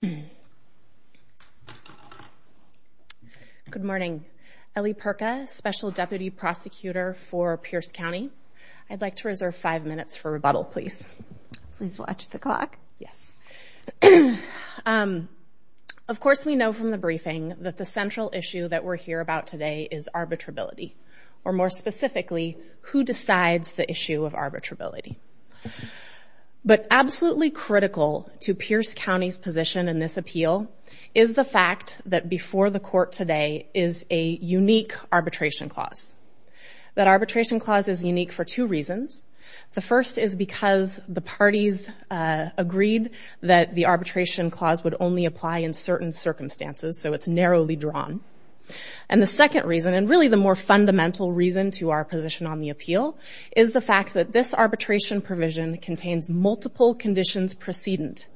Good morning. Ellie Perka, Special Deputy Prosecutor for Pierce County. I'd like to reserve five minutes for rebuttal, please. Please watch the clock. Yes. Of course, we know from the briefing that the central issue that we're here about today is arbitrability, or more specifically, who decides the issue of arbitrability. But absolutely critical to Pierce County's position in this appeal is the fact that before the court today is a unique arbitration clause. That arbitration clause is unique for two reasons. The first is because the parties agreed that the arbitration clause would only apply in certain circumstances, so it's narrowly drawn. And the second reason, and really the more fundamental reason to our position on the appeal, is the fact that this arbitration provision contains multiple conditions precedent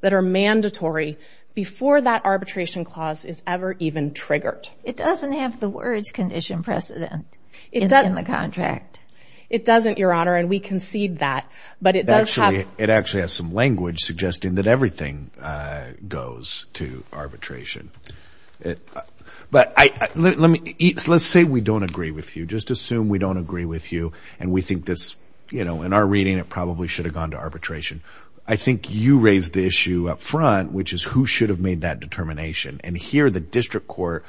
that are mandatory before that arbitration clause is ever even triggered. It doesn't have the words condition precedent in the contract. It doesn't, Your Honor, and we concede that. But it does have... Actually, it actually has some language suggesting that everything goes to arbitration. But let's say we don't agree with you. Just assume we don't agree with you, and we think this, you know, in our reading, it probably should have gone to arbitration. I think you raised the issue up front, which is who should have made that determination. And here, the district court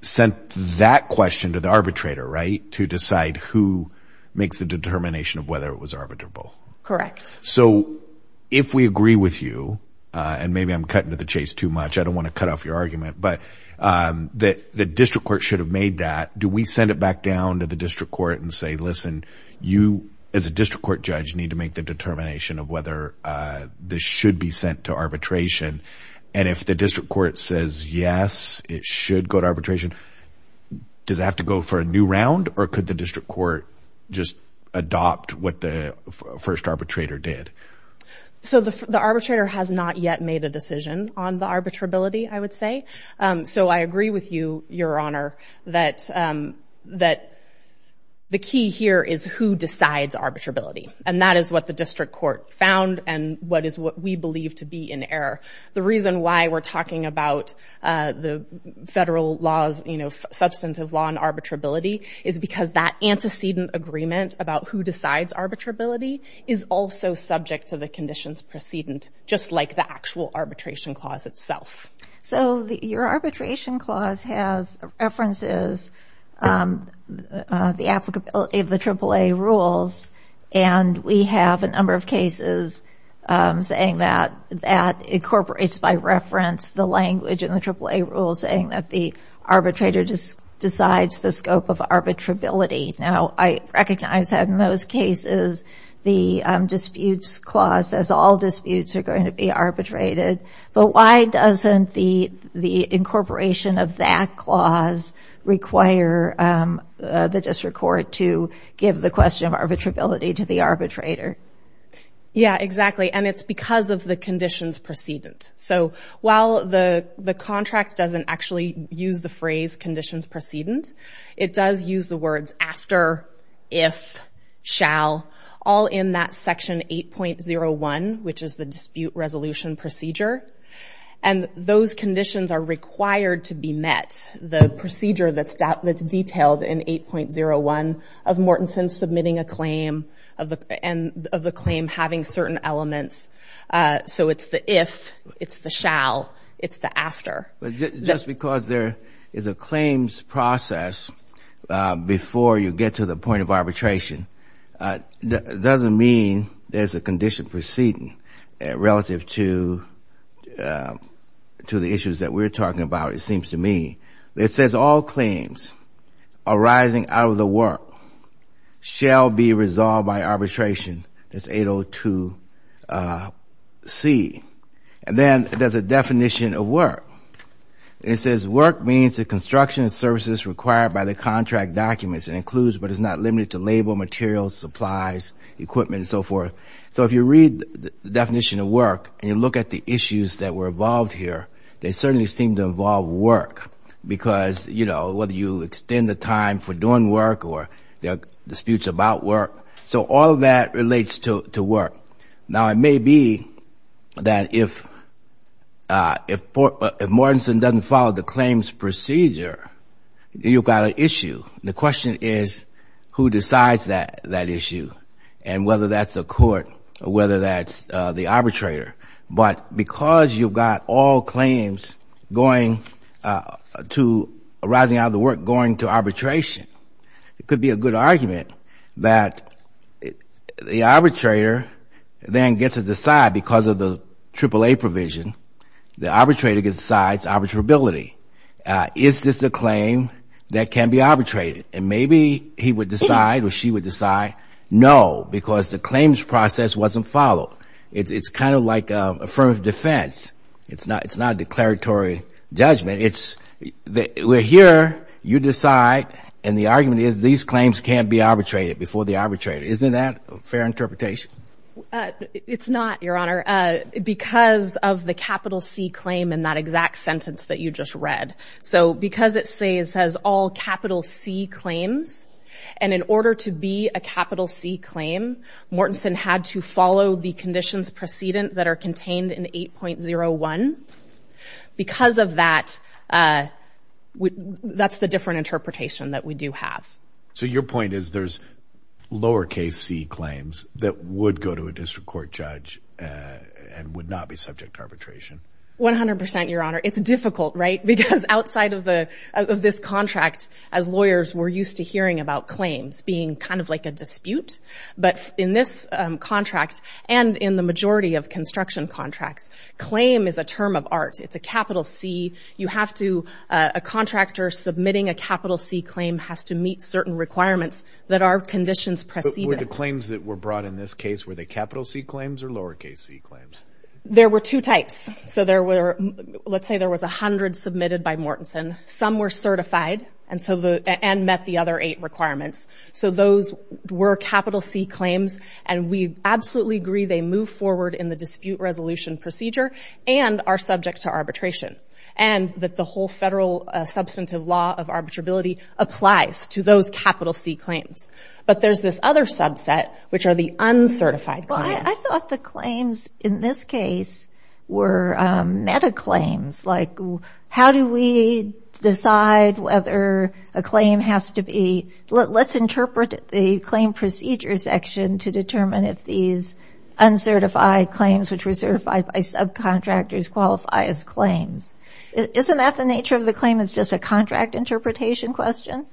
sent that question to the arbitrator, right? To decide who makes the determination of whether it was arbitrable. Correct. So if we agree with you, and maybe I'm cutting to the chase too much, I don't want to cut off your argument, but the district court should have made that. Do we send it back down to the district court and say, listen, you as a district court judge need to make the determination of whether this should be sent to arbitration? And if the district court says, yes, it should go to arbitration, does it have to go for a new round? Or could the district court just adopt what the first arbitrator did? So the arbitrator has not yet made a decision on the arbitrability, I would say. So I agree with you, Your Honor, that the key here is who decides arbitrability. And that is what the district court found, and what is what we believe to be in error. The reason why we're talking about the federal laws, you know, substantive law and arbitrability, is because that antecedent agreement about who decides arbitrability is also subject to the conditions precedent, just like the actual arbitration clause itself. So your arbitration clause has references, the applicability of the AAA rules, and we have a number of cases saying that that incorporates by reference the language in the AAA rules saying that the arbitrator decides the scope of arbitrability. Now, I recognize that in those cases the disputes clause says all disputes are going to be arbitrated, but why doesn't the incorporation of that clause require the district court to give the question of arbitrability to the arbitrator? Yeah, exactly. And it's because of the conditions precedent. So while the contract doesn't actually use the phrase conditions precedent, it does use the words after, if, shall, all in that section 8.01, which is the dispute resolution procedure. And those conditions are required to be met, the procedure that's detailed in 8.01 of Mortenson submitting a claim and of the claim having certain elements. So it's the if, it's the shall, it's the after. Just because there is a claims process before you get to the point of arbitration doesn't mean there's a condition precedent relative to the issues that we're talking about. It's seems to me. It says all claims arising out of the work shall be resolved by arbitration. That's 8.02c. And then there's a definition of work. It says work means the construction services required by the contract documents and includes but is not limited to label, materials, supplies, equipment, and so forth. So if you read the definition of work and you look at the issues that were involved here, they certainly seem to involve work because, you know, whether you extend the time for doing work or there are disputes about work. So all of that relates to work. Now it may be that if Mortenson doesn't follow the claims procedure, you've got an issue. The question is who decides that issue and whether that's a court or whether that's the arbitrator. But because you've got all claims going to arising out of the work going to arbitration, it could be a good argument that the arbitrator then gets to decide because of the AAA provision, the arbitrator decides arbitrability. Is this a claim that can be arbitrated? And maybe he would decide or she would decide. No, because the claims process wasn't followed. It's kind of like affirmative defense. It's not a declaratory judgment. It's we're here, you decide, and the argument is these claims can't be arbitrated before the arbitrator. Isn't that a fair interpretation? It's not, Your Honor, because of the capital C claim in that exact sentence that you just read. So because it says all capital C claims and in order to be a capital C claim, Mortenson had to follow the conditions precedent that are contained in 8.01. Because of that, that's the different interpretation that we do have. So your point is there's lowercase C claims that would go to a district court judge and would not be subject to arbitration? 100%, Your Honor. It's difficult, right? Because outside of this contract, as lawyers, we're used to hearing about claims being kind of like a dispute. But in this contract and in the majority of construction contracts, claim is a term of art. It's a capital C. You have to, a contractor submitting a capital C claim has to meet certain requirements that are conditions precedent. Were the claims that were brought in this case, were they capital C claims or lowercase C claims? There were two types. So there were, let's say there was a hundred submitted by Mortenson. Some were certified and met the other eight requirements. So those were capital C claims and we absolutely agree they move forward in the dispute resolution procedure and are subject to arbitration. And that the whole federal substantive law of arbitrability applies to those capital C claims. But there's this other subset which are the uncertified claims. I thought the claims in this case were meta claims. Like how do we decide whether a claim has to be, let's interpret the claim procedure section to determine if these uncertified claims, which were certified by subcontractors qualify as claims. Isn't that the nature of the claim? It's just a contract interpretation question.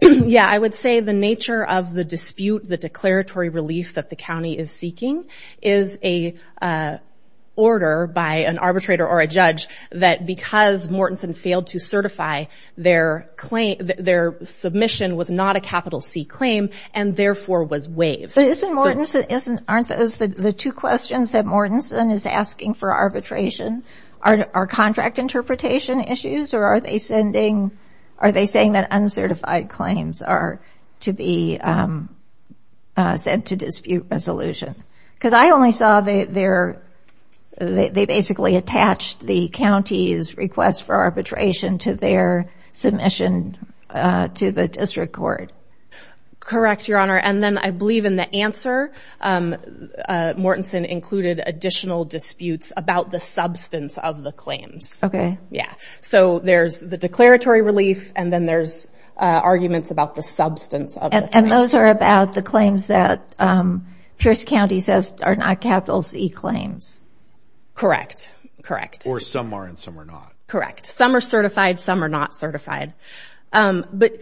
Yeah, I would say the nature of the dispute, the declaratory relief that the county is seeking is a order by an arbitrator or a judge that because Mortenson failed to certify their claim, their submission was not a capital C claim and therefore was waived. But isn't Mortenson, aren't those the two questions that Mortenson is asking for arbitration? Are contract interpretation issues or are they sending, are they saying that uncertified claims are to be sent to dispute resolution? Because I only saw they basically attached the county's request for arbitration to their submission to the district court. Correct Your Honor. And then I believe in the answer, Mortenson included additional disputes about the substance of the claims. So there's the declaratory relief and then there's arguments about the substance of the claims. And those are about the claims that Pierce County says are not capital C claims. Or some are and some are not. Correct. Some are certified, some are not certified. But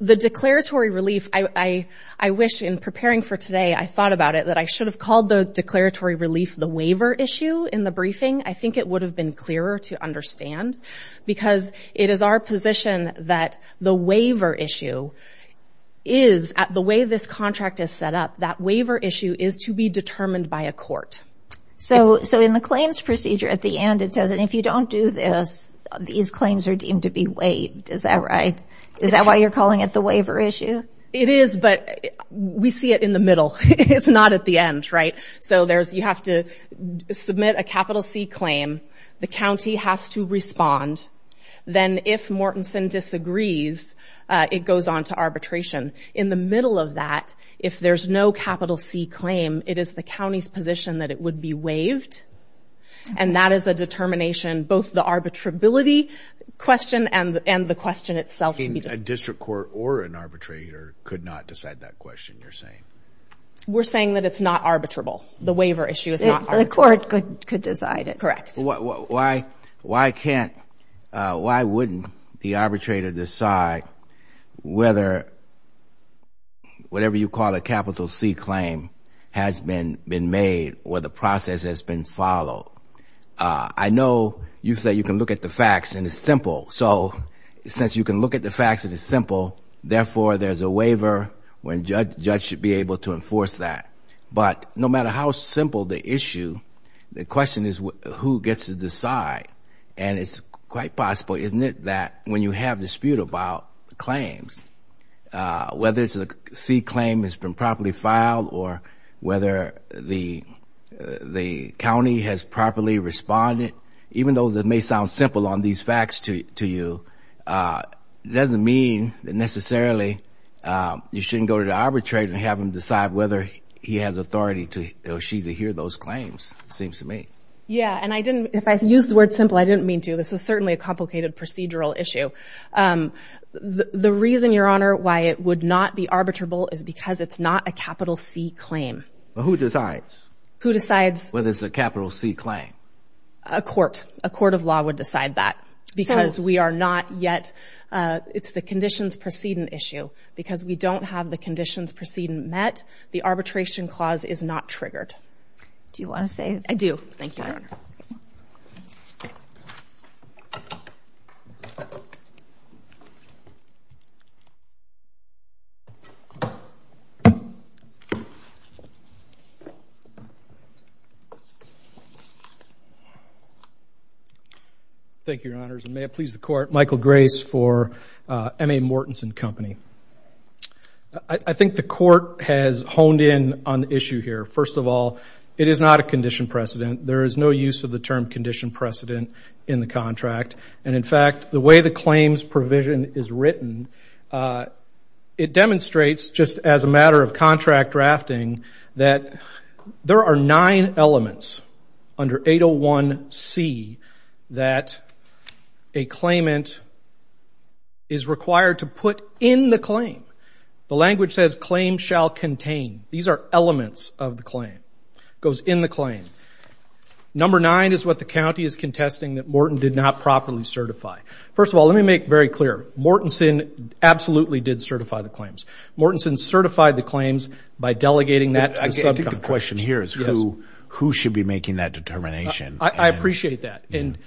the declaratory relief, I wish in preparing for today, I thought about it that I should have called the declaratory relief the waiver issue in the briefing. I think it would have been clearer to understand because it is our position that the waiver issue is, the way this contract is set up, that waiver issue is to be determined by a court. So in the claims procedure at the end it says, and if you don't do this, these claims are deemed to be waived. Is that right? Is that why you're calling it the waiver issue? It is, but we see it in the middle. It's not at the end, right? So you have to submit a capital C claim. The county has to respond. Then if Mortenson disagrees, it goes on to arbitration. In the middle of that, if there's no capital C claim, it is the county's position that it would be waived. And that is a determination, both the arbitrability question and the question itself to be determined. A district court or an arbitrator could not decide that question, you're saying? We're saying that it's not arbitrable. The waiver issue is not arbitrable. The court could decide it. Correct. Why can't, why wouldn't the arbitrator decide whether whatever you call a capital C claim has been made or the process has been followed? I know you said you can look at the facts and it's simple. So since you can look at the facts and it's simple, therefore there's a waiver when judge should be able to enforce that. But no matter how simple the issue, the question is who gets to decide? And it's quite possible, isn't it, that when you have dispute about claims, whether it's a C claim has been properly filed or whether the county has properly responded, even though that may sound simple on these facts to you, it doesn't mean that necessarily you shouldn't go to the arbitrator and have him decide whether he has authority to, or she, to hear those claims, it seems to me. Yeah, and I didn't, if I used the word simple, I didn't mean to. This is certainly a complicated procedural issue. The reason, Your Honor, why it would not be arbitrable is because it's not a capital C claim. Who decides? Who decides? Whether it's a capital C claim. A court, a court of law would decide that because we are not yet, it's the conditions preceding issue. Because we don't have the conditions preceding met, the arbitration clause is not triggered. Do you want to say? I do. Thank you, Your Honor. Thank you, Your Honors. And may it please the court, Michael Grace for M.A. Mortensen Company. I think the court has honed in on the issue here. First of all, it is not a condition precedent. There is no use of the term condition precedent in the contract. And in fact, the way the claims provision is written, it demonstrates just as a matter of contract drafting that there are nine elements under 801C that a claimant is required to put in the claim. The language says claim shall contain. These are elements of the claim. Goes in the claim. Number nine is what the county is contesting that Morten did not properly certify. First of all, let me make very clear. Mortensen absolutely did certify the claims. Mortensen certified the claims by delegating that to the subcontractor. I think the question here is who should be making that determination. I appreciate that. And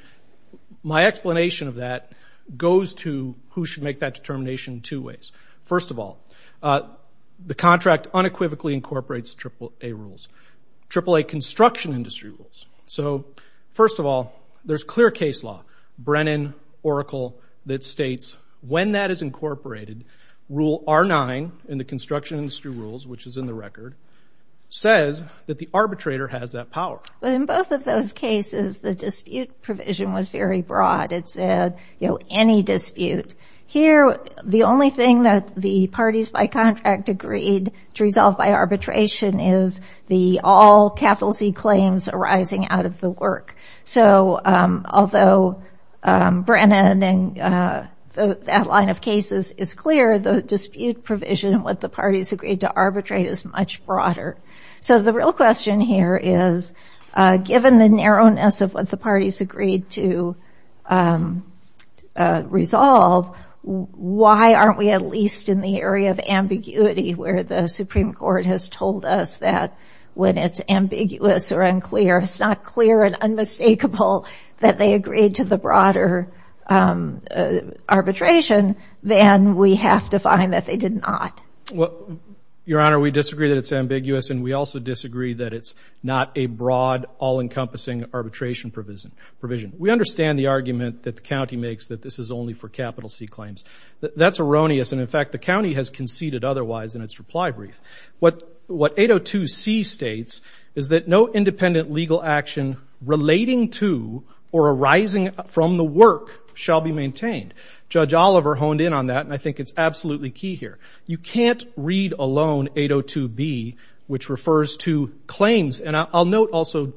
my explanation of that goes to who should make that determination two ways. First of all, the contract unequivocally incorporates AAA rules, AAA construction industry rules. So first of all, there's clear case law, Brennan, Oracle, that states when that is incorporated, rule R9 in the construction industry rules, which is in the record, says that the arbitrator has that power. But in both of those cases, the dispute provision was very broad. It said, you know, any dispute. Here the only thing that the parties by contract agreed to resolve by arbitration is the all capital Z claims arising out of the work. So although Brennan and that line of cases is clear, the dispute provision what the parties agreed to arbitrate is much broader. So the real question here is given the narrowness of what the parties agreed to resolve, why aren't we at least in the area of ambiguity where the Supreme Court has told us that when it's ambiguous or unclear, it's not clear and unmistakable that they agreed to the broader arbitration, then we have to find that they did not. Well, Your Honor, we disagree that it's ambiguous and we also disagree that it's not a broad all-encompassing arbitration provision. We understand the argument that the county makes that this is only for capital C claims. That's erroneous. And in fact, the county has conceded otherwise in its reply brief. What 802C states is that no independent legal action relating to or arising from the work shall be maintained. Judge Oliver honed in on that and I think it's absolutely key here. You can't read alone 802B, which refers to claims. And I'll note also,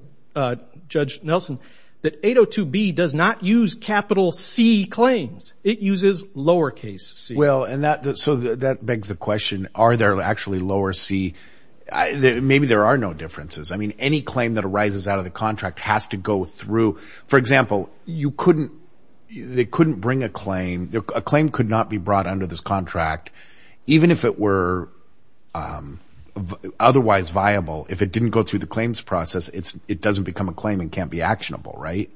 Judge Nelson, that 802B does not use capital C claims. It uses lowercase c. Well, and that so that begs the question, are there actually lower C? Maybe there are no differences. I mean, any claim that arises out of the contract has to go through. For example, you couldn't they couldn't bring a claim. A claim could not be brought under this contract, even if it were otherwise viable. If it didn't go through the claims process, it doesn't become a claim and can't be actionable. Right.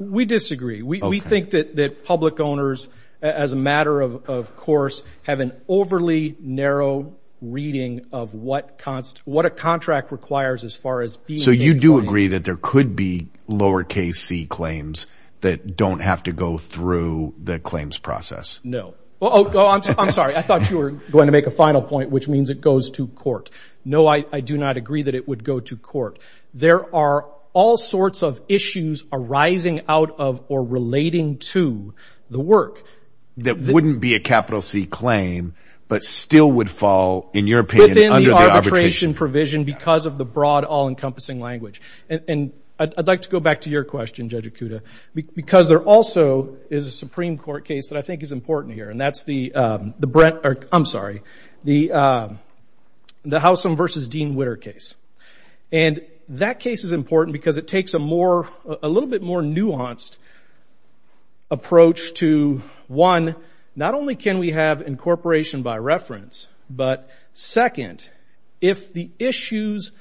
We disagree. We think that public owners, as a matter of course, have an overly narrow reading of what const what a contract requires as far as being. So you do agree that there could be lowercase c claims that don't have to go through the claims process? No. Oh, I'm sorry. I thought you were going to make a final point, which means it goes to court. No, I do not agree that it would go to court. There are all sorts of issues arising out of or relating to the work that wouldn't be a capital C claim, but still would fall, in your opinion, under the arbitration provision because of the broad, all encompassing language. And I'd like to go back to your question, Judge Ikuda, because there also is a Supreme Court case that I think is important here. And that's the the Brent or I'm sorry, the the Howsam versus Dean Witter case. And that case is important because it takes a more a little bit more nuanced approach to one, not only can we have incorporation by reference, but second, if the issues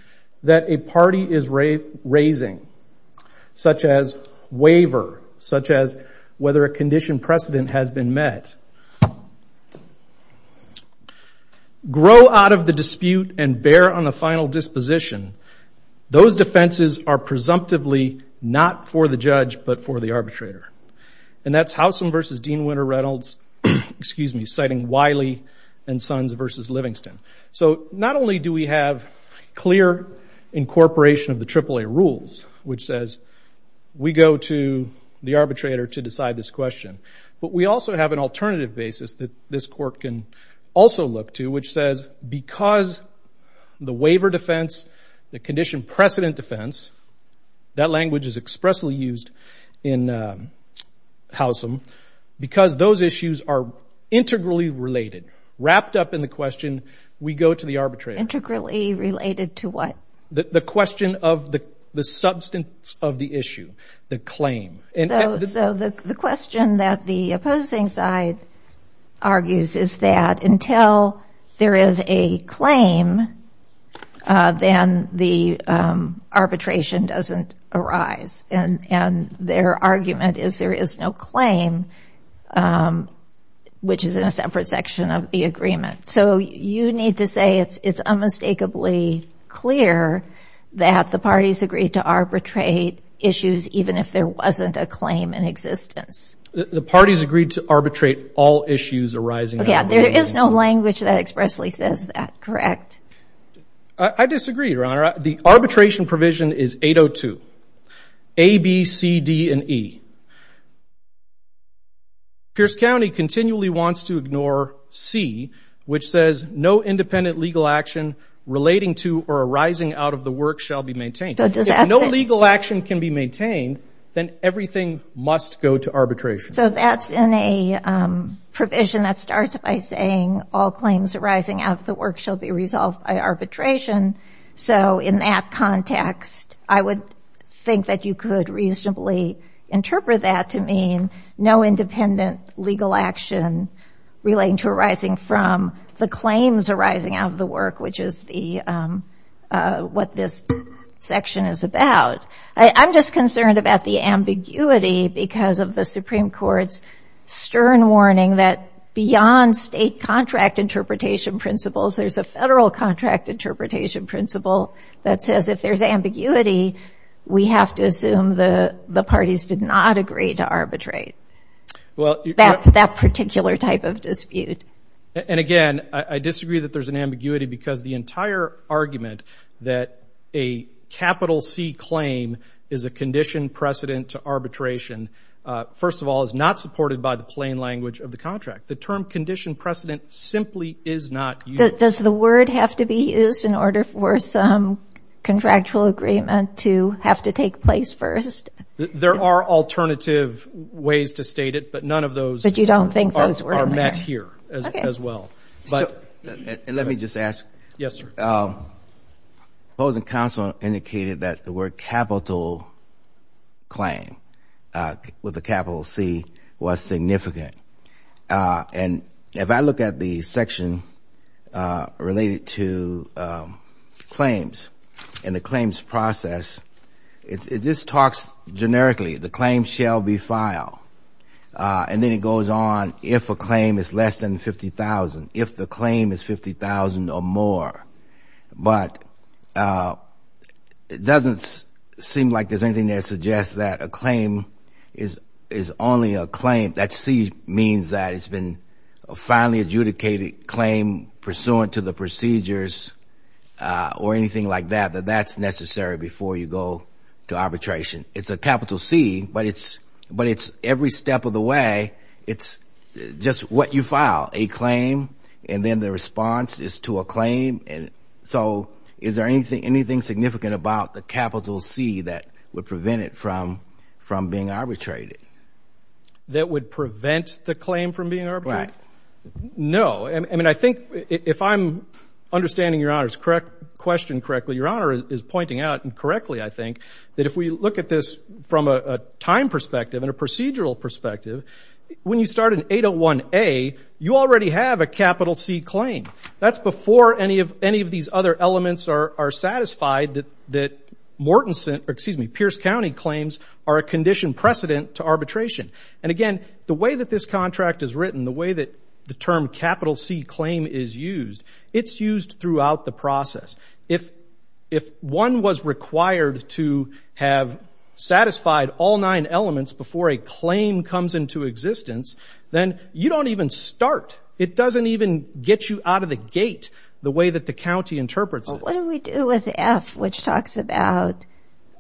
that a party is raising, such as waiver, such as whether a condition precedent has been met, grow out of the dispute and bear on the final disposition, those defenses are presumptively not for the judge, but for the arbitrator. And that's Howsam versus Dean Witter Reynolds, excuse me, citing Wiley and Sons versus Livingston. So not only do we have clear incorporation of the AAA rules, which says we go to the arbitrator to decide this question, but we also have an alternative basis that this court can also look to, which says because the waiver defense, the condition precedent defense, that language is expressly used in Howsam, because those issues are integrally related, wrapped up in the question, we go to the arbitrator. Integrally related to what? The question of the substance of the issue, the claim. And so the question that the opposing side argues is that until there is a claim, then the arbitration doesn't arise. And their argument is there is no claim, which is in a separate section of the agreement. So you need to say it's unmistakably clear that the parties agreed to arbitrate issues even if there wasn't a claim in existence. The parties agreed to arbitrate all issues arising. There is no language that expressly says that, correct? I disagree, Your Honor. The arbitration provision is 802, A, B, C, D and E. Pierce County continually wants to ignore C, which says no independent legal action relating to or arising out of the work shall be maintained. If no legal action can be maintained, then everything must go to arbitration. So that's in a provision that starts by saying all claims arising out of the work shall be resolved by arbitration. So in that context, I would think that you could reasonably interpret that to mean no independent legal action relating to or arising from the claims arising out of the work, which is what this section is about. I'm just concerned about the ambiguity because of the Supreme Court's stern warning that beyond state contract interpretation principles, there's a federal contract interpretation principle that says if there's ambiguity, we have to assume the parties did not agree to arbitrate that particular type of dispute. And again, I disagree that there's an ambiguity because the entire argument that a capital C claim is a condition precedent to arbitration, first of all, is not supported by the plain language of the contract. The term condition precedent simply is not used. Does the word have to be used in order for some contractual agreement to have to take place first? There are alternative ways to state it, but none of those are met here as well. Let me just ask. Yes, sir. Opposing counsel indicated that the word capital claim with a capital C was significant. And if I look at the section related to claims and the claims process, it just talks generically. The claim shall be filed. And then it goes on if a claim is less than $50,000, if the claim is $50,000 or more. But it doesn't seem like there's anything that suggests that a claim is only a claim That C means that it's been a finally adjudicated claim pursuant to the procedures or anything like that, that that's necessary before you go to arbitration. It's a capital C, but it's every step of the way. It's just what you file, a claim, and then the response is to a claim. And so is there anything significant about the capital C that would prevent it from being arbitrated? That would prevent the claim from being arbitrated? Right. No. I mean, I think if I'm understanding Your Honor's question correctly, Your Honor is pointing out, and correctly, I think, that if we look at this from a time perspective and a procedural perspective, when you start an 801A, you already have a capital C claim. That's before any of these other elements are satisfied that Mortenson, excuse me, Pierce County claims are a condition precedent to arbitration. And again, the way that this contract is written, the way that the term capital C claim is used, it's used throughout the process. If one was required to have satisfied all nine elements before a claim comes into existence, then you don't even start. It doesn't even get you out of the gate the way that the county interprets it. What do we do with F, which talks about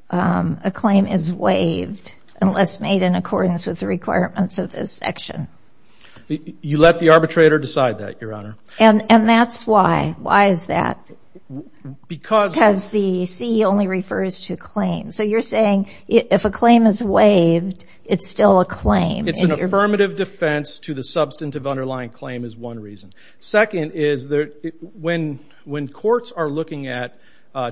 a claim is waived unless made in accordance with the requirements of this section? You let the arbitrator decide that, Your Honor. And that's why. Why is that? Because... Because the C only refers to claims. So you're saying if a claim is waived, it's still a claim. It's an affirmative defense to the substantive underlying claim is one reason. Second is that when courts are looking at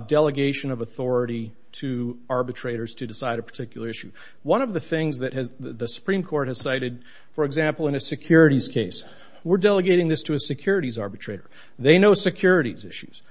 delegation of authority to arbitrators to decide a particular issue, one of the things that the Supreme Court has cited, for example, in a securities case, we're delegating this to a securities arbitrator. They know securities issues.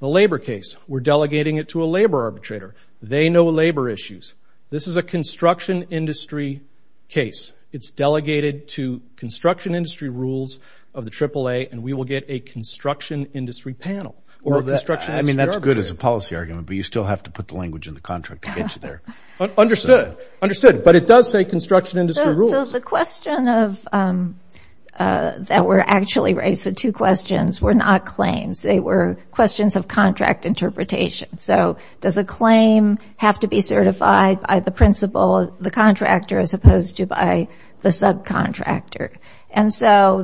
The labor case, we're delegating it to a labor arbitrator. They know labor issues. This is a construction industry case. It's delegated to construction industry rules of the AAA, and we will get a construction industry panel. Or a construction industry arbitrator. I mean, that's good as a policy argument, but you still have to put the language in the contract to get you there. Understood. Understood. But it does say construction industry rules. So the question that were actually raised, the two questions, were not claims. They were questions of contract interpretation. So does a claim have to be certified by the principal, the contractor, as opposed to by the subcontractor? And so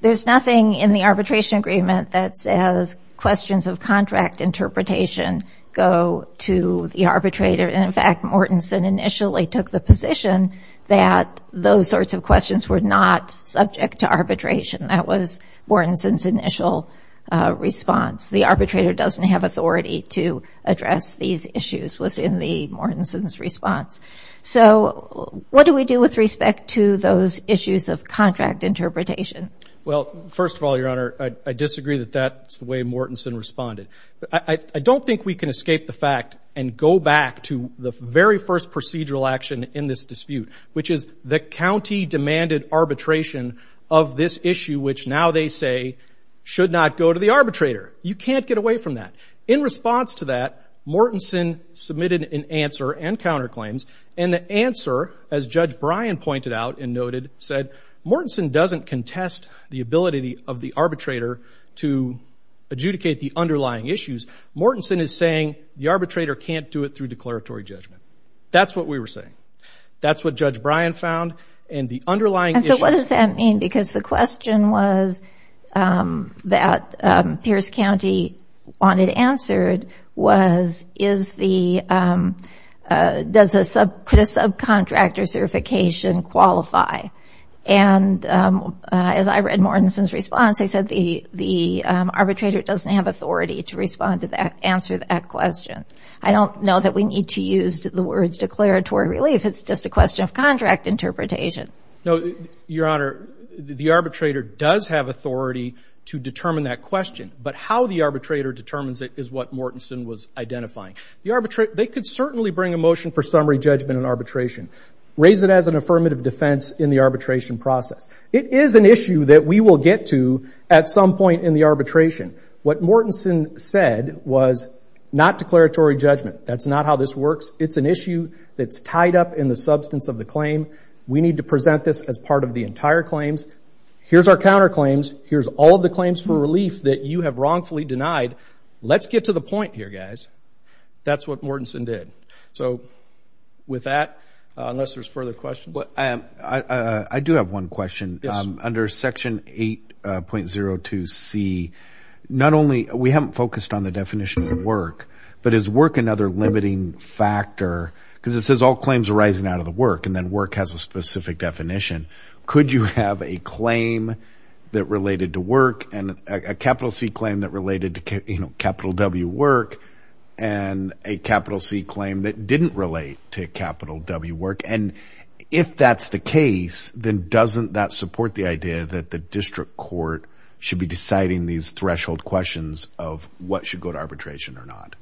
there's nothing in the arbitration agreement that says questions of contract interpretation go to the arbitrator, and in fact, Mortensen initially took the position that those sorts of questions were not subject to arbitration. That was Mortensen's initial response. The arbitrator doesn't have authority to address these issues was in the Mortensen's response. So what do we do with respect to those issues of contract interpretation? Well, first of all, Your Honor, I disagree that that's the way Mortensen responded. I don't think we can escape the fact and go back to the very first procedural action in this dispute, which is the county demanded arbitration of this issue, which now they say should not go to the arbitrator. You can't get away from that. In response to that, Mortensen submitted an answer and counterclaims, and the answer, as Judge Bryan pointed out and noted, said, Mortensen doesn't contest the ability of the arbitrator to adjudicate the underlying issues. Mortensen is saying the arbitrator can't do it through declaratory judgment. That's what we were saying. That's what Judge Bryan found, and the underlying issue... ...that the county wanted answered was, does the subcontractor certification qualify? And as I read Mortensen's response, they said the arbitrator doesn't have authority to respond to that, answer that question. I don't know that we need to use the words declaratory relief. It's just a question of contract interpretation. No, Your Honor, the arbitrator does have authority to determine that question. But how the arbitrator determines it is what Mortensen was identifying. They could certainly bring a motion for summary judgment in arbitration, raise it as an affirmative defense in the arbitration process. It is an issue that we will get to at some point in the arbitration. What Mortensen said was not declaratory judgment. That's not how this works. It's an issue that's tied up in the substance of the claim. We need to present this as part of the entire claims. Here's our counterclaims. Here's all of the claims for relief that you have wrongfully denied. Let's get to the point here, guys. That's what Mortensen did. So with that, unless there's further questions. I do have one question. Under Section 8.02c, not only we haven't focused on the definition of work, but is work another limiting factor? Because it says all claims arising out of the work, and then work has a specific definition. Could you have a claim that related to work, and a capital C claim that related to capital W work, and a capital C claim that didn't relate to capital W work? And if that's the case, then doesn't that support the idea that the district court should be deciding these threshold questions of what should go to arbitration or not?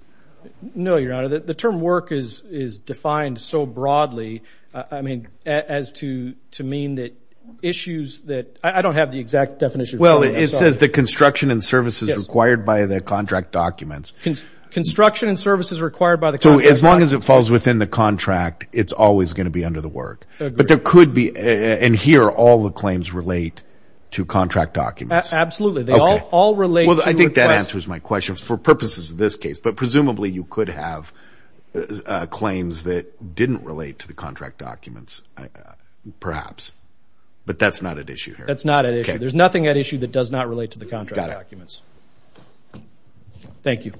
No, Your Honor. The term work is defined so broadly, I mean, as to mean that issues that... I don't have the exact definition. Well, it says the construction and services required by the contract documents. Construction and services required by the contract documents. So as long as it falls within the contract, it's always going to be under the work. Agreed. But there could be... And here, all the claims relate to contract documents. Absolutely. They all relate to the request. Well, I think that answers my question for purposes of this case. But presumably, you could have claims that didn't relate to the contract documents, perhaps. But that's not at issue here. That's not at issue. There's nothing at issue that does not relate to the contract documents. Thank you.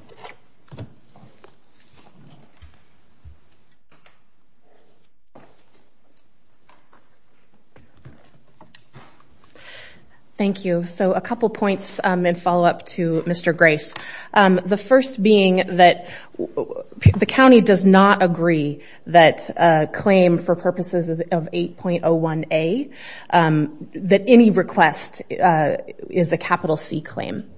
Thank you. So a couple points in follow-up to Mr. Grace. The first being that the county does not agree that a claim for purposes of 8.01A, that any request is a capital C claim.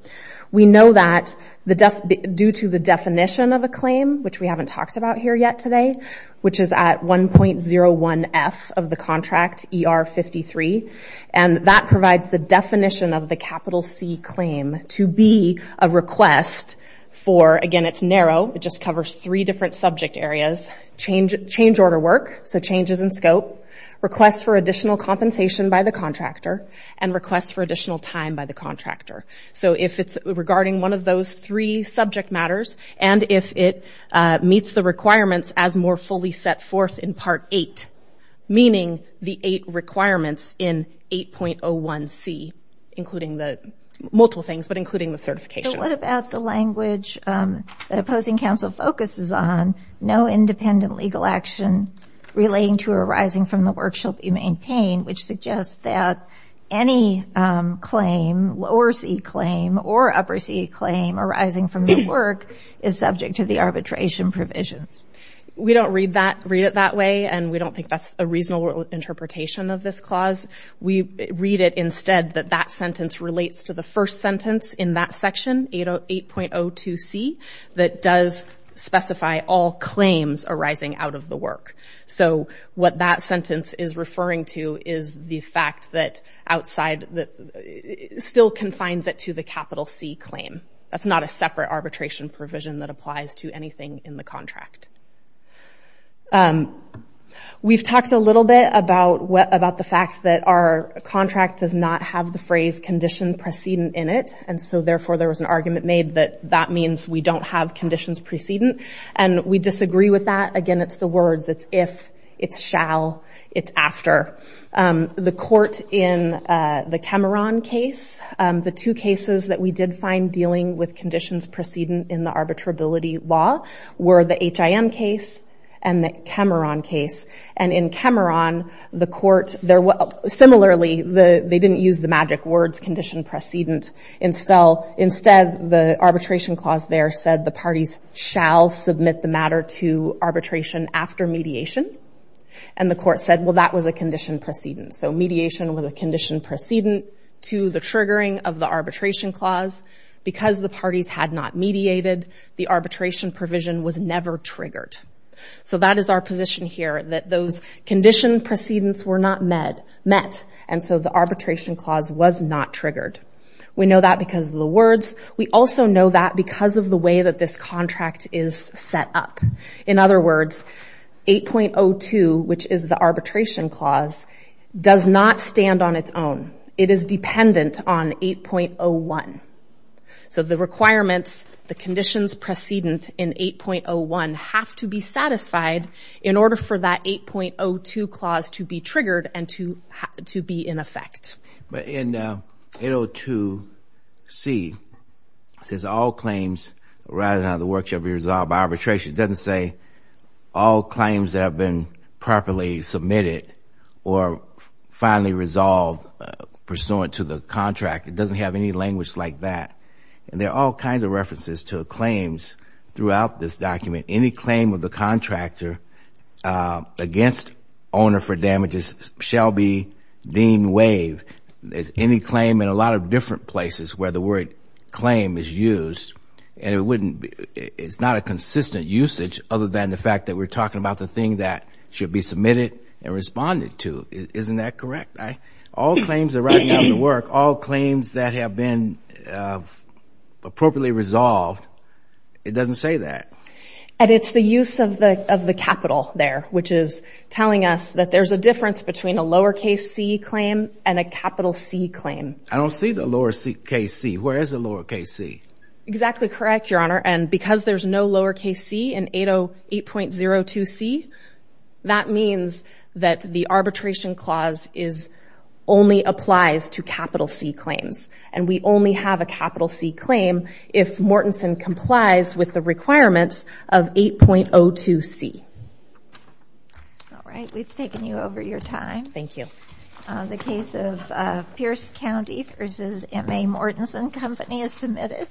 We know that due to the definition of a claim, which we haven't talked about here yet today, which is at 1.01F of the contract, ER 53, and that provides the definition of the capital C claim to be a request for, again it's narrow, it just covers three different subject areas, change order work, so changes in scope, requests for additional compensation by the contractor, and requests for additional time by the contractor. So if it's regarding one of those three subject matters, and if it meets the requirements as more fully set forth in Part 8, meaning the eight requirements in 8.01C, including the, multiple things, but including the certification. So what about the language that opposing counsel focuses on, no independent legal action relating to arising from the work shall be maintained, which suggests that any claim, lower C claim or upper C claim arising from the work is subject to the arbitration provisions. We don't read that, read it that way, and we don't think that's a reasonable interpretation of this clause. We read it instead that that sentence relates to the first sentence in that section, 8.02C, that does specify all claims arising out of the work. So what that sentence is referring to is the fact that outside, that still confines it to the capital C claim. That's not a separate arbitration provision that applies to anything in the contract. We've talked a little bit about the fact that our contract does not have the phrase condition precedent in it, and so therefore there was an argument made that that means we don't have conditions precedent, and we disagree with that. Again, it's the words, it's if, it's shall, it's after. The court in the Kemeron case, the two cases that we did find dealing with conditions precedent in the arbitrability law were the HIM case and the Kemeron case. And in Kemeron, the court, there were, similarly, they didn't use the magic words condition precedent, instead, the arbitration clause there said the parties shall submit the matter to arbitration after mediation, and the court said, well, that was a condition precedent. So mediation was a condition precedent to the triggering of the arbitration clause. Because the parties had not mediated, the arbitration provision was never triggered. So that is our position here, that those condition precedents were not met, and so the arbitration clause was not triggered. We know that because of the words. We also know that because of the way that this contract is set up. In other words, 8.02, which is the arbitration clause, does not stand on its own. It is dependent on 8.01. So the requirements, the conditions precedent in 8.01 have to be satisfied in order for that 8.02 clause to be triggered and to be in effect. But in 8.02c, it says all claims arising out of the works shall be resolved by arbitration. It doesn't say all claims that have been properly submitted or finally resolved pursuant to the contract. It doesn't have any language like that. And there are all kinds of references to claims throughout this document. Any claim of the contractor against owner for damages shall be deemed waived. There's any claim in a lot of different places where the word claim is used, and it's not a consistent usage other than the fact that we're talking about the thing that should be submitted and responded to. Isn't that correct? All claims arising out of the work, all claims that have been appropriately resolved, it doesn't say that. And it's the use of the capital there, which is telling us that there's a difference between a lowercase C claim and a capital C claim. I don't see the lowercase C. Where is the lowercase C? Exactly correct, Your Honor. And because there's no lowercase C in 808.02c, that means that the arbitration clause only applies to capital C claims. And we only have a capital C claim if Mortenson complies with the requirements of 8.02c. All right, we've taken you over your time. Thank you. The case of Pierce County v. M.A. Mortenson Company is submitted.